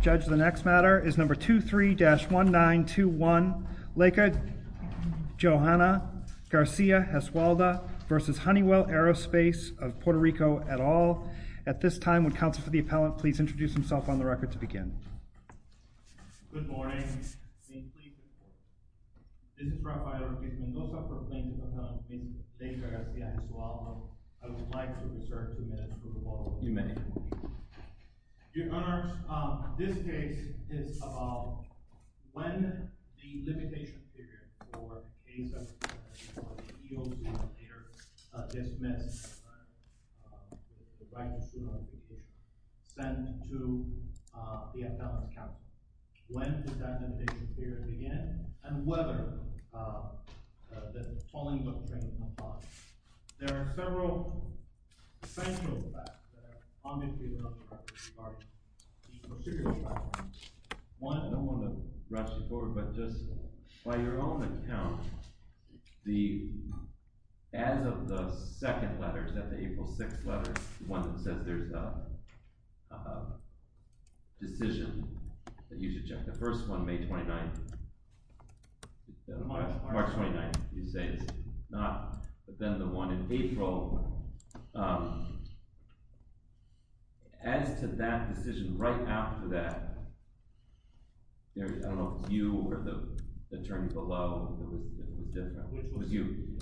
Judge, the next matter is number 23-1921, Laker-Gesualdo v. Honeywell Aerospace of Puerto Rico, et al. At this time, would counsel for the appellant please introduce himself on the record to begin. Good morning. This is Rafael Luis Mendoza for plaintiff's appellant, Mr. Laker-Gesualdo. I would like to reserve two minutes for the ball. You may. Your Honors, this case is about when the limitation period for the case of the EOC later dismissed the right to sue notification, sent to the appellant's counsel. When did that limitation period begin and whether the tolling of the train was not followed? There are several essential facts that are on this case that I would like to regard as material facts. One, I don't want to rush you forward, but just by your own account, as of the second letter, the April 6th letter, the one that says there's a decision that you should check. The first one, May 29th. March 29th. You say it's not, but then the one in April, as to that decision right after that, I don't know if it's you or the attorney below, it was you,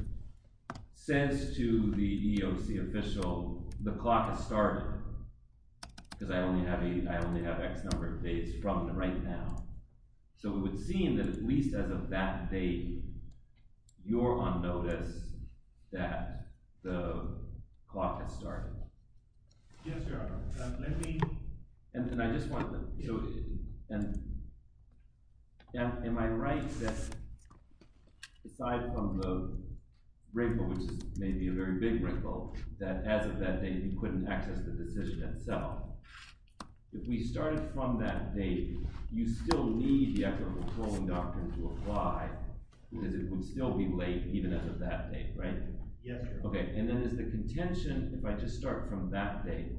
says to the EOC official, the clock has started because I only have X number of days from right now. So it would seem that at least as of that date, you're on notice that the clock has started. Yes, Your Honor. Let me— And I just want to—am I right that aside from the wrinkle, which is maybe a very big wrinkle, that as of that date you couldn't access the decision itself, if we started from that date, you still need the Act of Controlling Doctrine to apply, because it would still be late even as of that date, right? Yes, Your Honor. Okay, and then is the contention, if I just start from that date,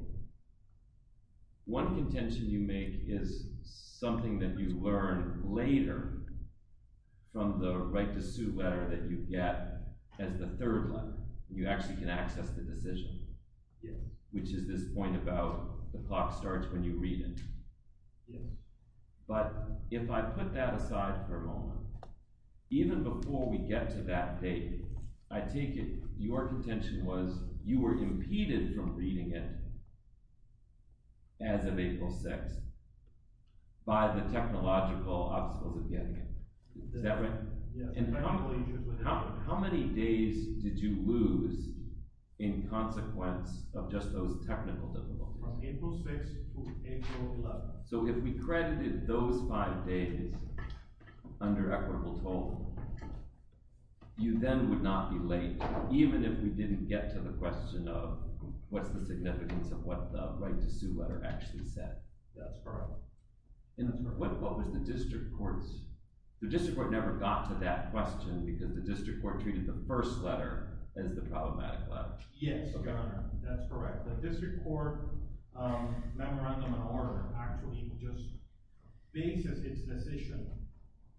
one contention you make is something that you learn later from the right-to-sue letter that you get as the third letter. You actually can access the decision. Yes. Which is this point about the clock starts when you read it. Yes. But if I put that aside for a moment, even before we get to that date, I take it your contention was you were impeded from reading it as of April 6th by the technological obstacles of getting it. Is that right? Yes. How many days did you lose in consequence of just those technical difficulties? From April 6th to April 11th. So if we credited those five days under equitable total, you then would not be late, even if we didn't get to the question of what's the significance of what the right-to-sue letter actually said. That's correct. What was the district court's? The district court never got to that question because the district court treated the first letter as the problematic letter. Yes, Your Honor. That's correct. The district court memorandum of order actually just bases its decision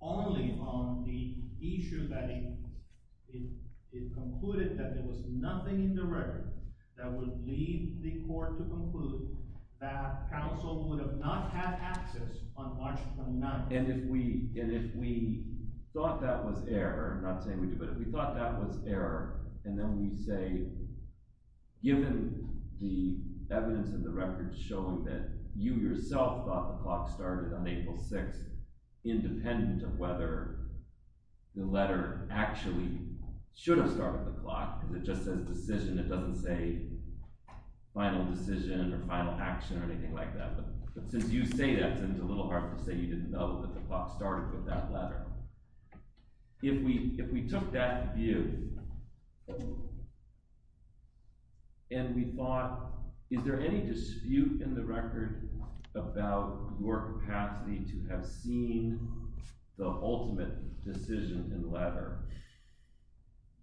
only on the issue that it concluded that there was nothing in the record that would lead the court to conclude that counsel would have not had access on March 29th. And if we thought that was error, not saying we do, but if we thought that was error, and then we say, given the evidence in the record showing that you yourself thought the clock started on April 6th, independent of whether the letter actually should have started the clock, because it just says decision, it doesn't say final decision or final action or anything like that. But since you say that, it's a little hard to say you didn't know that the clock started with that letter. If we took that view and we thought, is there any dispute in the record about your capacity to have seen the ultimate decision in the letter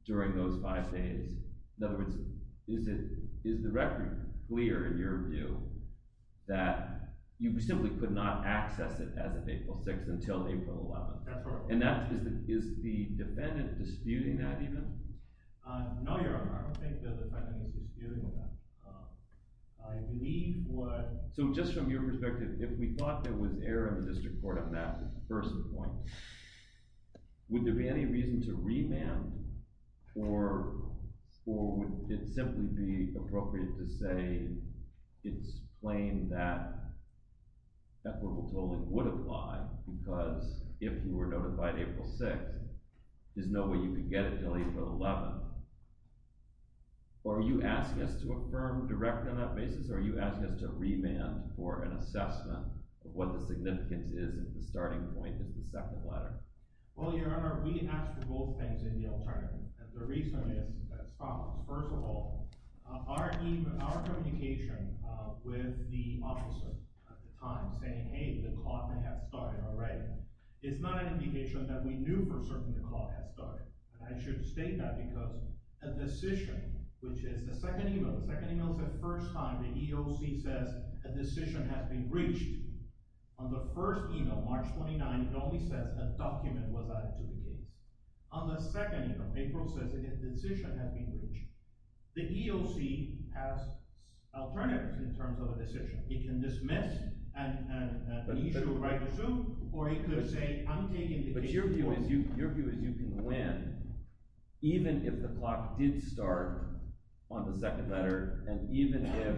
during those five days? In other words, is the record clear in your view that you simply could not access it as of April 6th until April 11th? That's correct. And is the defendant disputing that even? No, Your Honor. I don't think the defendant is disputing that. I believe what... So just from your perspective, if we thought there was error in the district court on that first point, would there be any reason to remand, or would it simply be appropriate to say it's plain that equitable tolling would apply because if you were notified April 6th, there's no way you could get it until April 11th? Or are you asking us to affirm directly on that basis, or are you asking us to remand for an assessment of what the significance is if the starting point is the second letter? Well, Your Honor, we asked for both things in the alternative. And the reason is as follows. First of all, our communication with the officer at the time saying, hey, the clock may have started already, is not an indication that we knew for certain the clock had started. And I should state that because a decision, which is the second email, the second email is the first time the EOC says a decision has been reached. On the first email, March 29th, it only says a document was added to the case. On the second email, April says a decision has been reached. The EOC has alternatives in terms of a decision. It can dismiss and issue a right to sue, or it could say I'm taking the case forward. But your view is you can win even if the clock did start on the second letter, and even if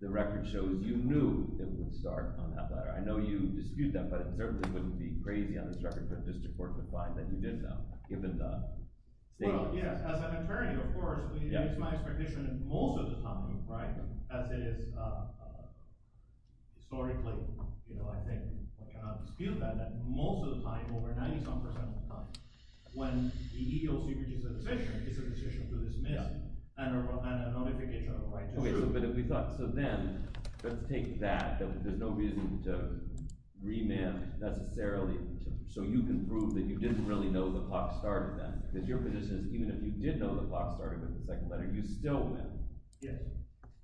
the record shows you knew it would start on that letter. I know you dispute that, but it certainly wouldn't be crazy on this record for a district court to find that you did know, given the statement. Well, yes. As an attorney, of course, it's my expectation that most of the time, right, as it is historically, I cannot dispute that, that most of the time, over 90-some percent of the time, when the EOC produces a decision, it's a decision to dismiss and a notification of a right to sue. But if we thought, so then, let's take that, that there's no reason to remand necessarily so you can prove that you didn't really know the clock started then. Because your position is even if you did know the clock started with the second letter, you still win. Yes.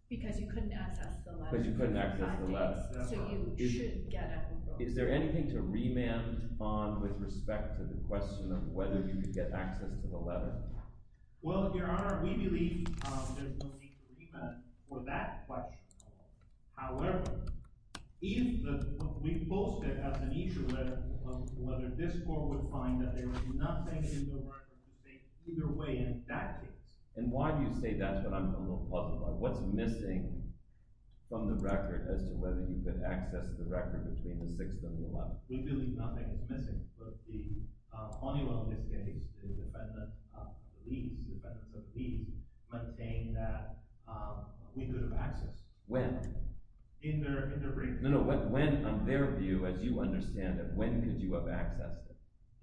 Because you couldn't access the letter. So you should get it. Is there anything to remand on with respect to the question of whether you could get access to the letter? Well, Your Honor, we believe there's no need to remand for that question. However, if we post it as an issue of whether this court would find that there was nothing in the record to say either way in that case. And why do you say that's what I'm a little puzzled by? What's missing from the record as to whether you could access the record between the 6th and the 11th? We believe nothing is missing, but the only one in this case, the defendant of the lease, the defendant of the lease, maintained that we could have accessed it. When? In their brief. No, no, when, on their view, as you understand it, when could you have accessed it?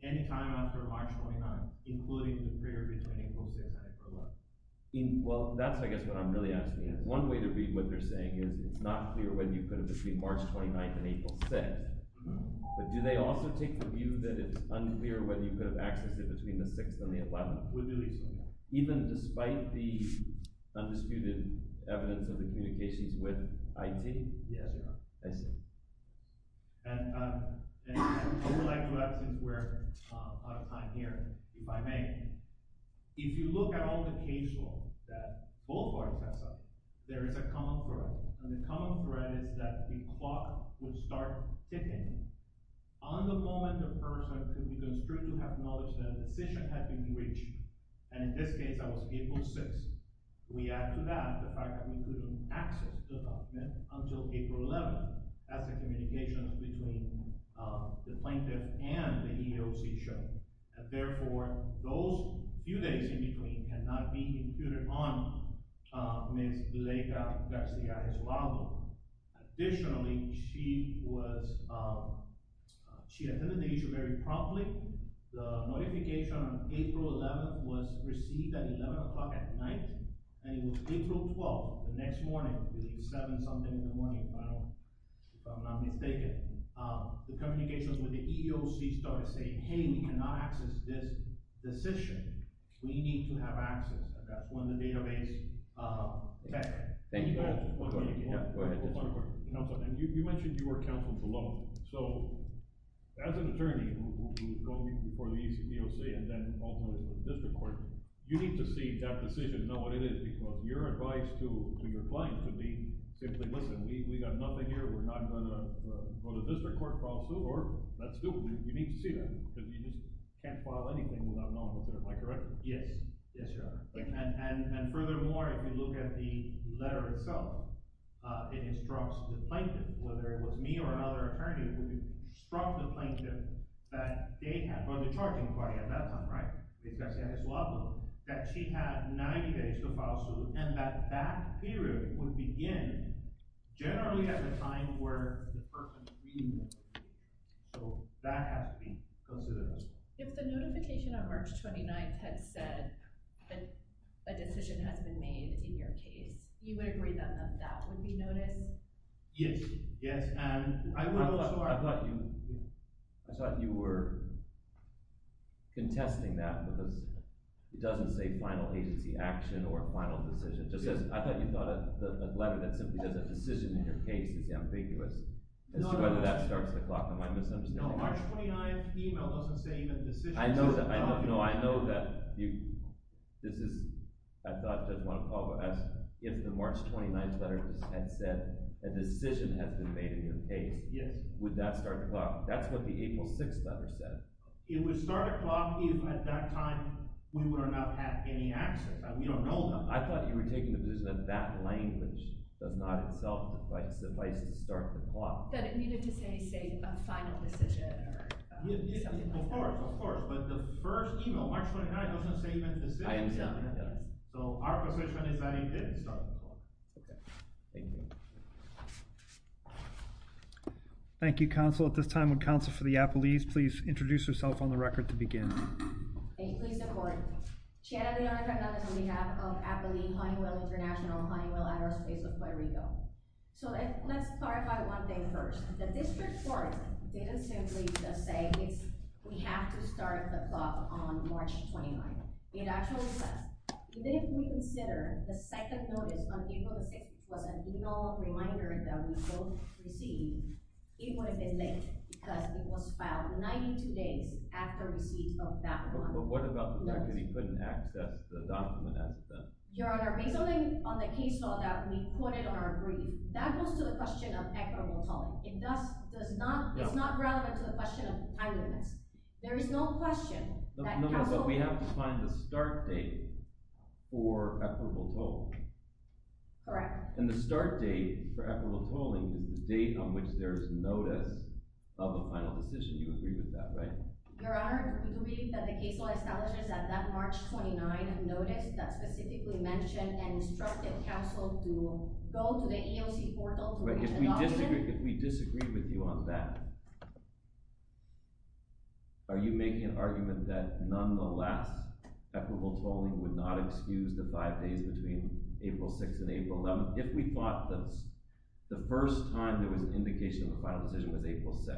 Any time after March 29th, including the period between April 6th and April 11th. Well, that's I guess what I'm really asking. One way to read what they're saying is it's not clear whether you could have between March 29th and April 6th, but do they also take the view that it's unclear whether you could have accessed it between the 6th and the 11th? We believe so, yes. Even despite the undisputed evidence of the communications with IT? Yes, Your Honor. I see. I would like to add since we're out of time here, if I may, if you look at all the case law that both parties have signed, there is a common thread, and the common thread is that the clock would start ticking on the moment the person could be construed to have acknowledged that a decision had been reached, and in this case that was April 6th. We add to that the fact that we couldn't access the document until April 11th as the communications between the plaintiff and the EEOC showed. Therefore, those few days in between cannot be included on Ms. Vilega Garcia-Escalado. Additionally, she attended the issue very promptly. The notification on April 11th was received at 11 o'clock at night, and it was April 12th, the next morning, between 7 something in the morning, if I'm not mistaken. The communications with the EEOC started saying, hey, we cannot access this decision. We need to have access, and that's when the database met. Thank you, Your Honor. Go ahead. You mentioned you were counseled below. So as an attorney who will go before the EEOC and then ultimately to the district court, you need to see that decision and know what it is because your advice to your client could be simply, listen, we got nothing here. We're not going to go to the district court, file suit, or let's do it. You need to see that because you just can't file anything without knowing what's in it. Am I correct? Yes. Yes, Your Honor. And furthermore, if you look at the letter itself, it instructs the plaintiff, whether it was me or another attorney, it would instruct the plaintiff that they had, or the charging party at that time, right, that she had 90 days to file a suit, and that that period would begin generally at the time where the person is reading the letter. So that has to be considered. If the notification on March 29th had said that a decision has been made in your case, you would agree that that would be noticed? Yes. Yes. And I would also argue… I thought you were contesting that because it doesn't say final agency action or final decision. I thought you thought a letter that simply says a decision in your case is ambiguous. As to whether that starts the clock, am I misunderstanding you? No, March 29th email doesn't say even decision. I know that. This is… I thought Judge Monaco asked if the March 29th letter had said a decision has been made in your case. Yes. Would that start the clock? That's what the April 6th letter said. It would start the clock if at that time we would not have had any access. We don't know that. I thought you were taking the position that that language does not itself suffice to start the clock. That it needed to say, say, a final decision or something like that. Of course. Of course. But the first email, March 29th, doesn't say even decision. I understand that. So our position is that it didn't start the clock. Okay. Thank you. Thank you, Counsel. At this time, would Counsel for the Appellees please introduce herself on the record to begin? Thank you. Pleased to report. Chiara D'Andrea Fernandez on behalf of Appellee Honeywell International Honeywell Address Base of Puerto Rico. So let's clarify one thing first. The district court didn't simply just say, we have to start the clock on March 29th. It actually says, even if we consider the second notice on April 6th was an email reminder that we both received, it would have been late because it was filed 92 days after receipt of that one. But what about the fact that he couldn't access the document? Your Honor, based on the case law that we quoted on our brief, that goes to the question of equitable tolling. It does not, it's not relevant to the question of time limits. There is no question that Counsel... Okay, but we have to find the start date for equitable tolling. Correct. And the start date for equitable tolling is the date on which there is notice of a final decision. You agree with that, right? Your Honor, we believe that the case law establishes that that March 29th notice that specifically mentioned and instructed Counsel to go to the EOC portal to reach an option. But if we disagree with you on that, are you making an argument that nonetheless, equitable tolling would not excuse the five days between April 6th and April 11th? If we thought that the first time there was an indication of a final decision was April 6th,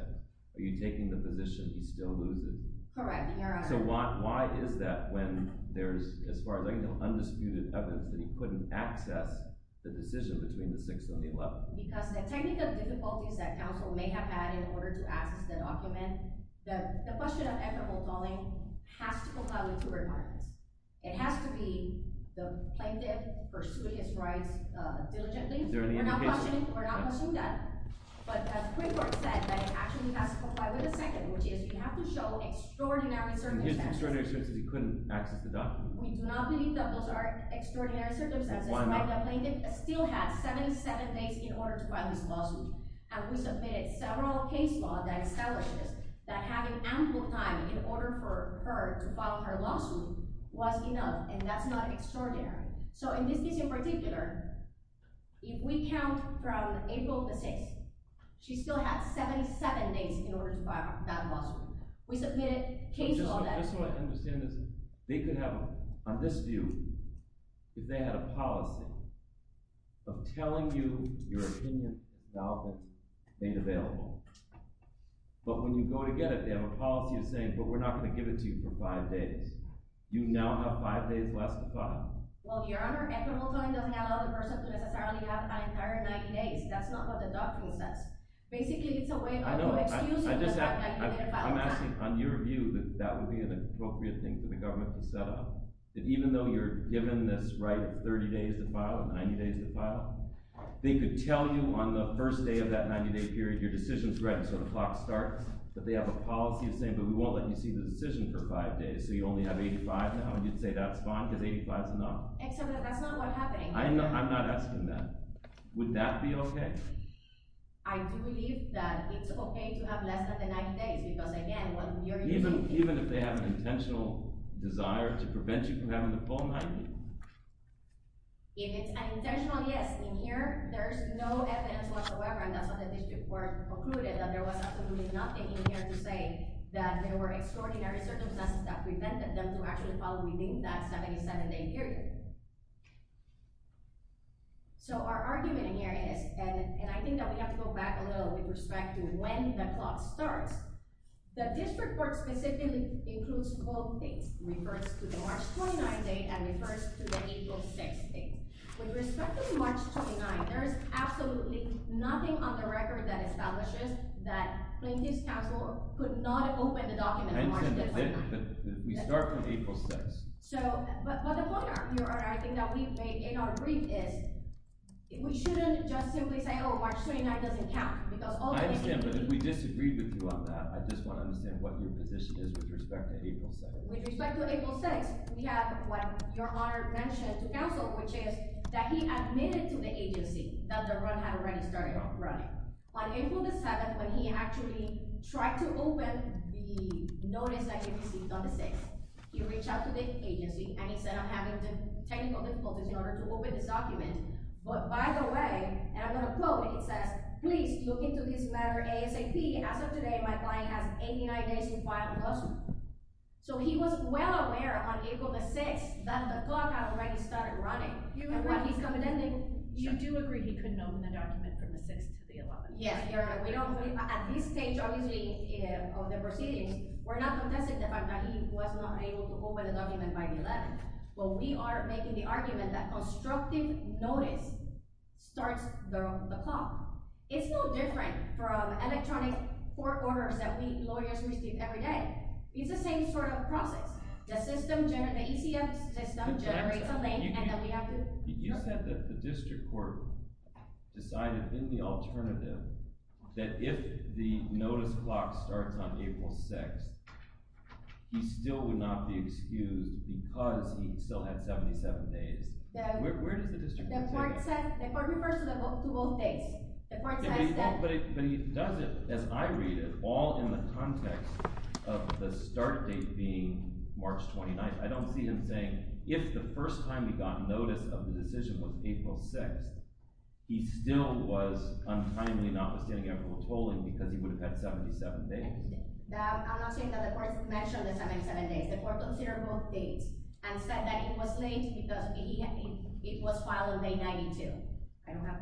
are you taking the position he still loses? Correct, Your Honor. So why is that when there's, as far as I can tell, undisputed evidence that he couldn't access the decision between the 6th and the 11th? Because the technical difficulties that Counsel may have had in order to access the document, the question of equitable tolling has to comply with two requirements. It has to be the plaintiff pursued his rights diligently. Is there any indication? We're not questioning, we're not questioning that. But as Quigley said, that it actually has to comply with the second, which is you have to show extraordinary circumstances. He has extraordinary circumstances, he couldn't access the document. We do not believe that those are extraordinary circumstances. Why not? The plaintiff still had 77 days in order to file this lawsuit, and we submitted several case law that establishes that having ample time in order for her to file her lawsuit was enough, and that's not extraordinary. So in this case in particular, if we count from April the 6th, she still had 77 days in order to file that lawsuit. We submitted case law that… But just so I understand this, they could have, on this view, if they had a policy of telling you your opinion about this ain't available, but when you go to get it, they have a policy of saying, but we're not going to give it to you for five days. You now have five days left to file. Well, Your Honor, equitable tolling doesn't allow the person to necessarily have an entire 90 days. That's not what the document says. Basically, it's a way of excusing… I know. I'm asking, on your view, that that would be an appropriate thing for the government to set up, that even though you're given this right of 30 days to file, 90 days to file, they could tell you on the first day of that 90-day period, your decision's ready, so the clock starts, but they have a policy of saying, but we won't let you see the decision for five days, so you only have 85 now, and you'd say that's fine because 85's enough. Except that that's not what happened. I'm not asking that. Would that be okay? I do believe that it's okay to have less than the 90 days because, again, what you're using… Even if they have an intentional desire to prevent you from having the full 90? If it's an intentional, yes. In here, there's no evidence whatsoever, and that's what the district court concluded, that there was absolutely nothing in here to say that there were extraordinary circumstances that prevented them to actually file within that 77-day period. So our argument in here is, and I think that we have to go back a little with respect to when the clock starts, that this report specifically includes both dates, refers to the March 29 date and refers to the April 6 date. With respect to March 29, there is absolutely nothing on the record that establishes that Plaintiff's Counsel could not open the document on March 29. We start from April 6. But the point, Your Honor, I think that we made in our brief is we shouldn't just simply say, oh, March 29 doesn't count. I understand, but if we disagreed with you on that, I just want to understand what your position is with respect to April 6. With respect to April 6, we have what Your Honor mentioned to counsel, which is that he admitted to the agency that the run had already started running. On April 7, when he actually tried to open the notice that he received on the 6th, he reached out to the agency and he said, I'm having technical difficulties in order to open this document. But by the way, and I'm going to quote it, it says, please look into this matter ASAP. As of today, my client has 89 days to file a lawsuit. So he was well aware on April 6 that the clock had already started running. You do agree he couldn't open the document from the 6th to the 11th? Yes, Your Honor. At this stage, obviously, of the proceedings, we're not contesting the fact that he was not able to open the document by the 11th. Well, we are making the argument that constructive notice starts the clock. It's no different from electronic court orders that we lawyers receive every day. It's the same sort of process. The ECF system generates a link and then we have to… You said that the district court decided in the alternative that if the notice clock starts on April 6, he still would not be excused because he still had 77 days. Where does the district court say that? The court refers to both days. The court says that… But he does it, as I read it, all in the context of the start date being March 29th. I don't see him saying, if the first time we got notice of the decision was April 6, he still was untimely not withstanding equitable tolling because he would have had 77 days. I'm not saying that the court mentioned the 77 days. The court considered both dates and said that it was late because it was filed on day 92. I don't have…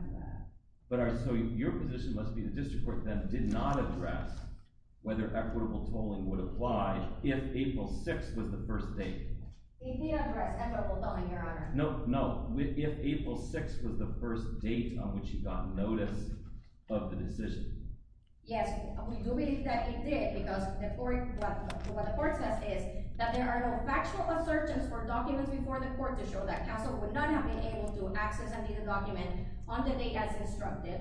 So your position must be the district court then did not address whether equitable tolling would apply if April 6 was the first date. It did address equitable tolling, Your Honor. No, no. If April 6 was the first date on which he got notice of the decision. Yes, we do believe that he did because what the court says is that there are no factual assertions or documents before the court to show that Castle would not have been able to access and read the document on the date as instructed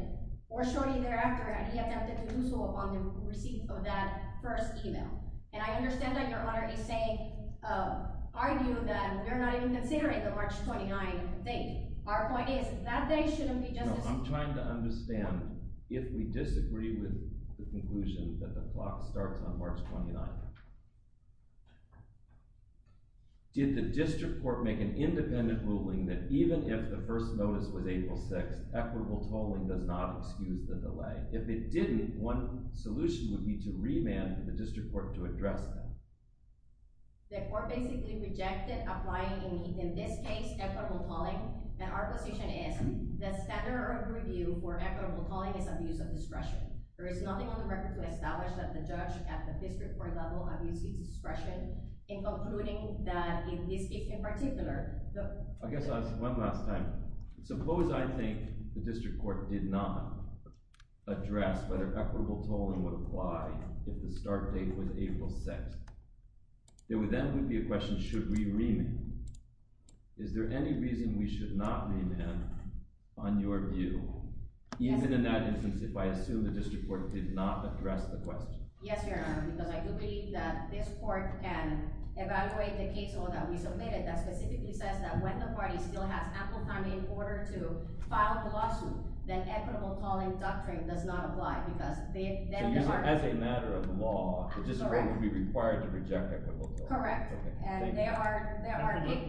or shortly thereafter, and he attempted to do so upon the receipt of that first email. And I understand that, Your Honor, he's saying, arguing that we're not even considering the March 29 date. Our point is, that date shouldn't be just as… No, I'm trying to understand if we disagree with the conclusion that the clock starts on March 29. Did the district court make an independent ruling that even if the first notice was April 6, equitable tolling does not excuse the delay? If it didn't, one solution would be to remand the district court to address that. The court basically rejected applying in this case equitable tolling, and our position is the standard of review for equitable tolling is abuse of discretion. There is nothing on the record to establish that the judge at the district court level abuses discretion in concluding that in this case in particular… I guess I'll ask one last time. Suppose I think the district court did not address whether equitable tolling would apply if the start date was April 6. There would then be a question, should we remand? Is there any reason we should not remand on your view, even in that instance, if I assume the district court did not address the question? Yes, Your Honor, because I do believe that this court can evaluate the case that we submitted that specifically says that when the party still has ample time in order to file a lawsuit, then equitable tolling doctrine does not apply, because then there are… So as a matter of law, the district court would be required to reject equitable tolling? Correct. And there are…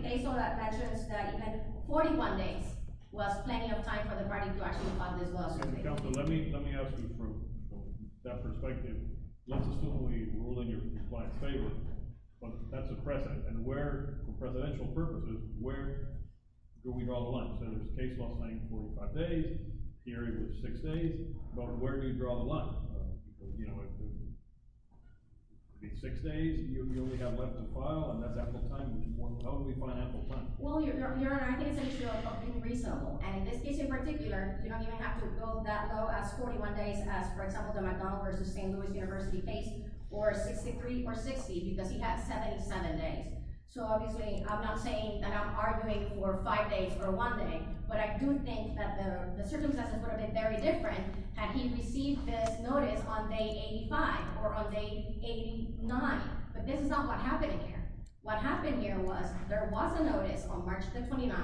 AISOL that mentions that even 41 days was plenty of time for the party to actually file this lawsuit. Counselor, let me ask you from that perspective. Let's assume we rule in your client's favor, but that's a precedent. And where, for presidential purposes, where do we draw the line? So there's case law saying 45 days, the area was 6 days. But where do you draw the line? You know, it could be 6 days, you only have left to file, and that's ample time. How do we find ample time? Well, Your Honor, I think it's actually reasonable. And in this case in particular, you don't even have to go that low as 41 days as, for example, the McDonald v. St. Louis University case, or 63 or 60, because he had 77 days. So obviously I'm not saying that I'm arguing for 5 days or 1 day, but I do think that the circumstances would have been very different had he received this notice on day 85 or on day 89. But this is not what happened here. What happened here was there was a notice on March 29th.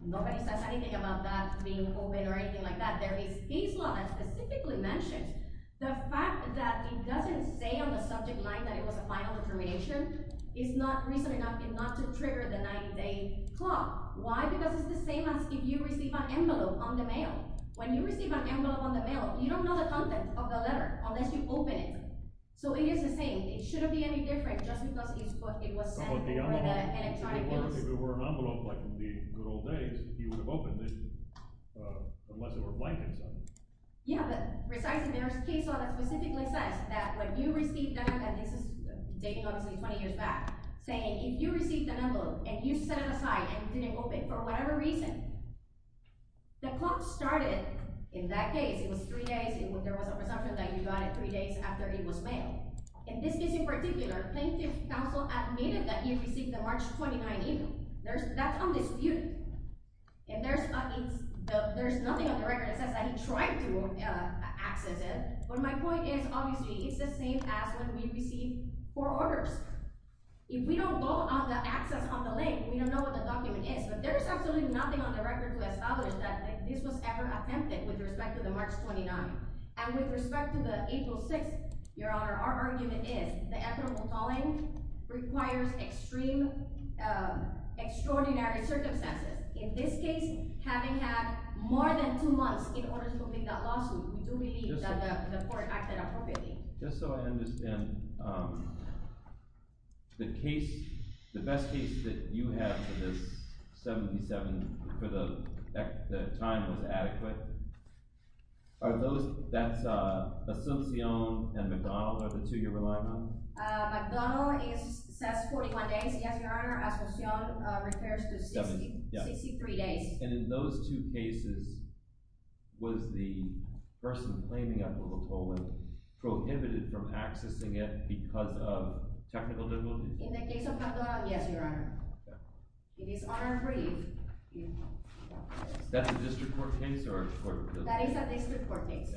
Nobody says anything about that being open or anything like that. There is case law that specifically mentions the fact that it doesn't say on the subject line that it was a final determination. It's not reason enough not to trigger the 90-day clock. Why? Because it's the same as if you receive an envelope on the mail. When you receive an envelope on the mail, you don't know the content of the letter unless you open it. So it is the same. It shouldn't be any different just because it was sent for the electronic bills. If it were an envelope like in the good old days, he would have opened it unless there were blankets on it. Yeah, but precisely there is case law that specifically says that when you received an envelope, and this is dating obviously 20 years back, saying if you received an envelope and you set it aside and it didn't open for whatever reason, the clock started in that case. It was 3 days. There was a presumption that you got it 3 days after it was mailed. In this case in particular, plaintiff counsel admitted that he received the March 29 envelope. That's undisputed. And there's nothing on the record that says that he tried to access it. But my point is obviously it's the same as when we received four orders. If we don't go on the access on the link, we don't know what the document is. But there is absolutely nothing on the record to establish that this was ever attempted with respect to the March 29. And with respect to the April 6, Your Honor, our argument is the equitable calling requires extreme, extraordinary circumstances. In this case, having had more than two months in order to complete that lawsuit, we do believe that the court acted appropriately. Just so I understand, the case – the best case that you have for this, 77, for the time that was adequate, are those – that's Asuncion and McDonald are the two you're relying on? McDonald says 41 days. Yes, Your Honor, Asuncion refers to 63 days. And in those two cases, was the person claiming equitable calling prohibited from accessing it because of technical difficulties? In the case of McDonald, yes, Your Honor. It is unapproved. That's a district court case? That is a district court case.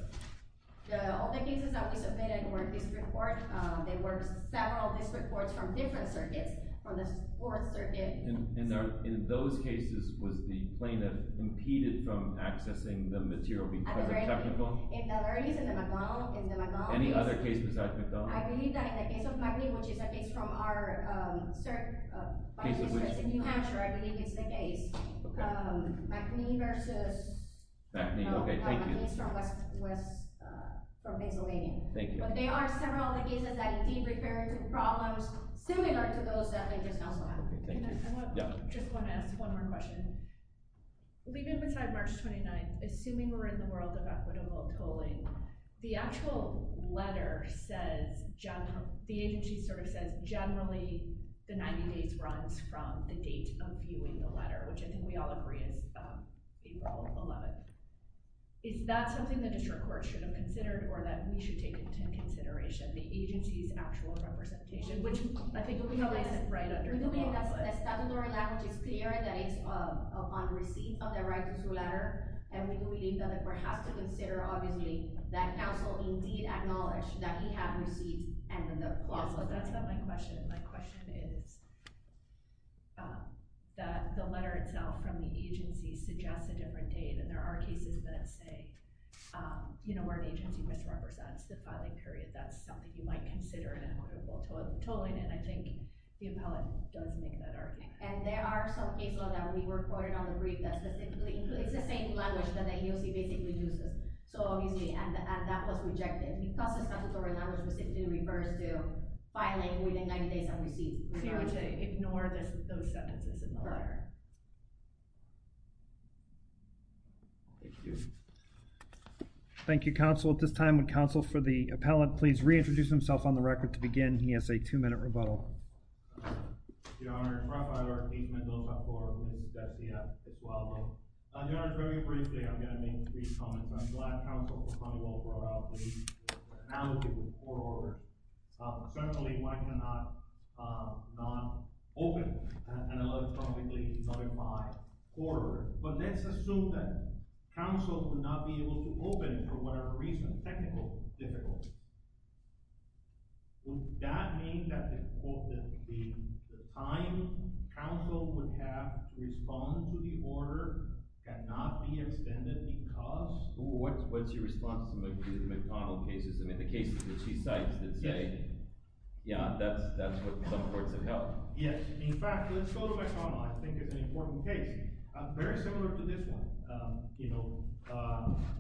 All the cases that we submitted were district court. They were several district courts from different circuits, from the Fourth Circuit. And in those cases, was the plaintiff impeded from accessing the material because of technical – In the case of McDonald, yes. Any other case besides McDonald? I believe that in the case of McNee, which is a case from our – my district in New Hampshire, I believe it's the case. McNee versus – McNee, okay, thank you. McNee is from Pennsylvania. Thank you. But there are several other cases that, indeed, refer to problems similar to those that I just now saw. Okay, thank you. I just want to ask one more question. Leaving aside March 29th, assuming we're in the world of equitable tolling, the actual letter says – the agency sort of says generally the 90 days runs from the date of viewing the letter, which I think we all agree is April 11th. Is that something the district court should have considered or that we should take into consideration? The agency's actual representation, which I think we know is right under the law. We believe that the statutory language is clear that it's on receipt of the right to toll letter, and we believe that the court has to consider, obviously, that counsel indeed acknowledged that he had received and then the – That's not my question. My question is that the letter itself from the agency suggests a different date, and there are cases that say, you know, where an agency misrepresents the filing period. That's something you might consider in equitable tolling, and I think the appellate does make that argument. And there are some cases that we were quoted on the brief that specifically includes the same language that the AOC basically uses. So, obviously, that was rejected because the statutory language specifically refers to filing within 90 days on receipt. So you want to ignore those sentences in the letter? Correct. Thank you. Thank you, counsel. At this time, would counsel for the appellate please reintroduce himself on the record to begin? He has a two-minute rebuttal. Your Honor, Profiler Keith Mendoza for Ms. Betsy Esvaldo. Your Honor, very briefly, I'm going to make three comments. I'm glad counsel for Coneywell brought up the allocation of court orders. Certainly, one cannot not open an electronically certified court order, but let's assume that counsel would not be able to open it for whatever reason, technical difficulties. Would that mean that the time counsel would have to respond to the order cannot be extended because… What's your response to some of the McConnell cases? I mean, the cases that she cites that say, yeah, that's what some courts have held. Yes. In fact, let's go to McConnell. I think it's an important case. Okay. Very similar to this one.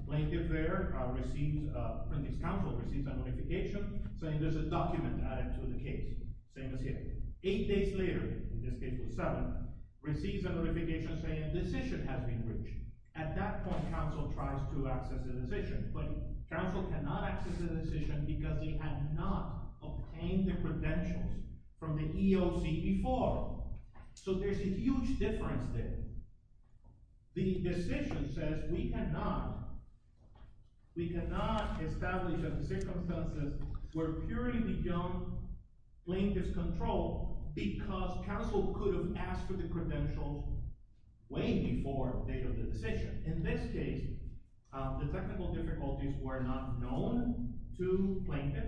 Plaintiff there receives—apprentice counsel receives a notification saying there's a document added to the case. Same as here. Eight days later, in this case it was seven, receives a notification saying a decision has been reached. At that point, counsel tries to access the decision, but counsel cannot access the decision because he had not obtained the credentials from the EOC before. So there's a huge difference there. The decision says we cannot establish a circumstance where purely the young plaintiff's control because counsel could have asked for the credentials way before the date of the decision. In this case, the technical difficulties were not known to plaintiff.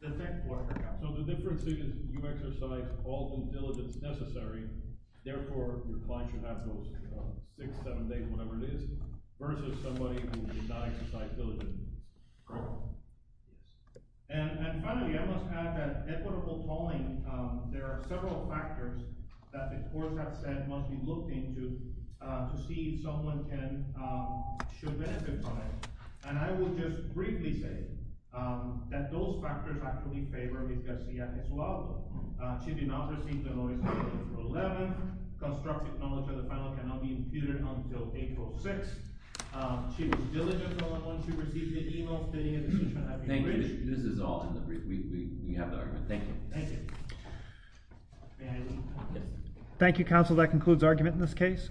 So the difference is you exercise all due diligence necessary, therefore your client should have those six, seven days, whatever it is, versus somebody who did not exercise diligence. Correct? Yes. And finally, I must add that equitable tolling, there are several factors that the courts have said must be looked into to see if someone should benefit from it. And I will just briefly say that those factors actually favor Ms. Garcia as well. She did not receive the notice of April 11th. Constructive knowledge of the final cannot be imputed until April 6th. She was diligent on when she received the email stating a decision had been reached. This is all in the brief. We have the argument. Thank you. Thank you. May I leave? Yes. Thank you, counsel. That concludes argument in this case.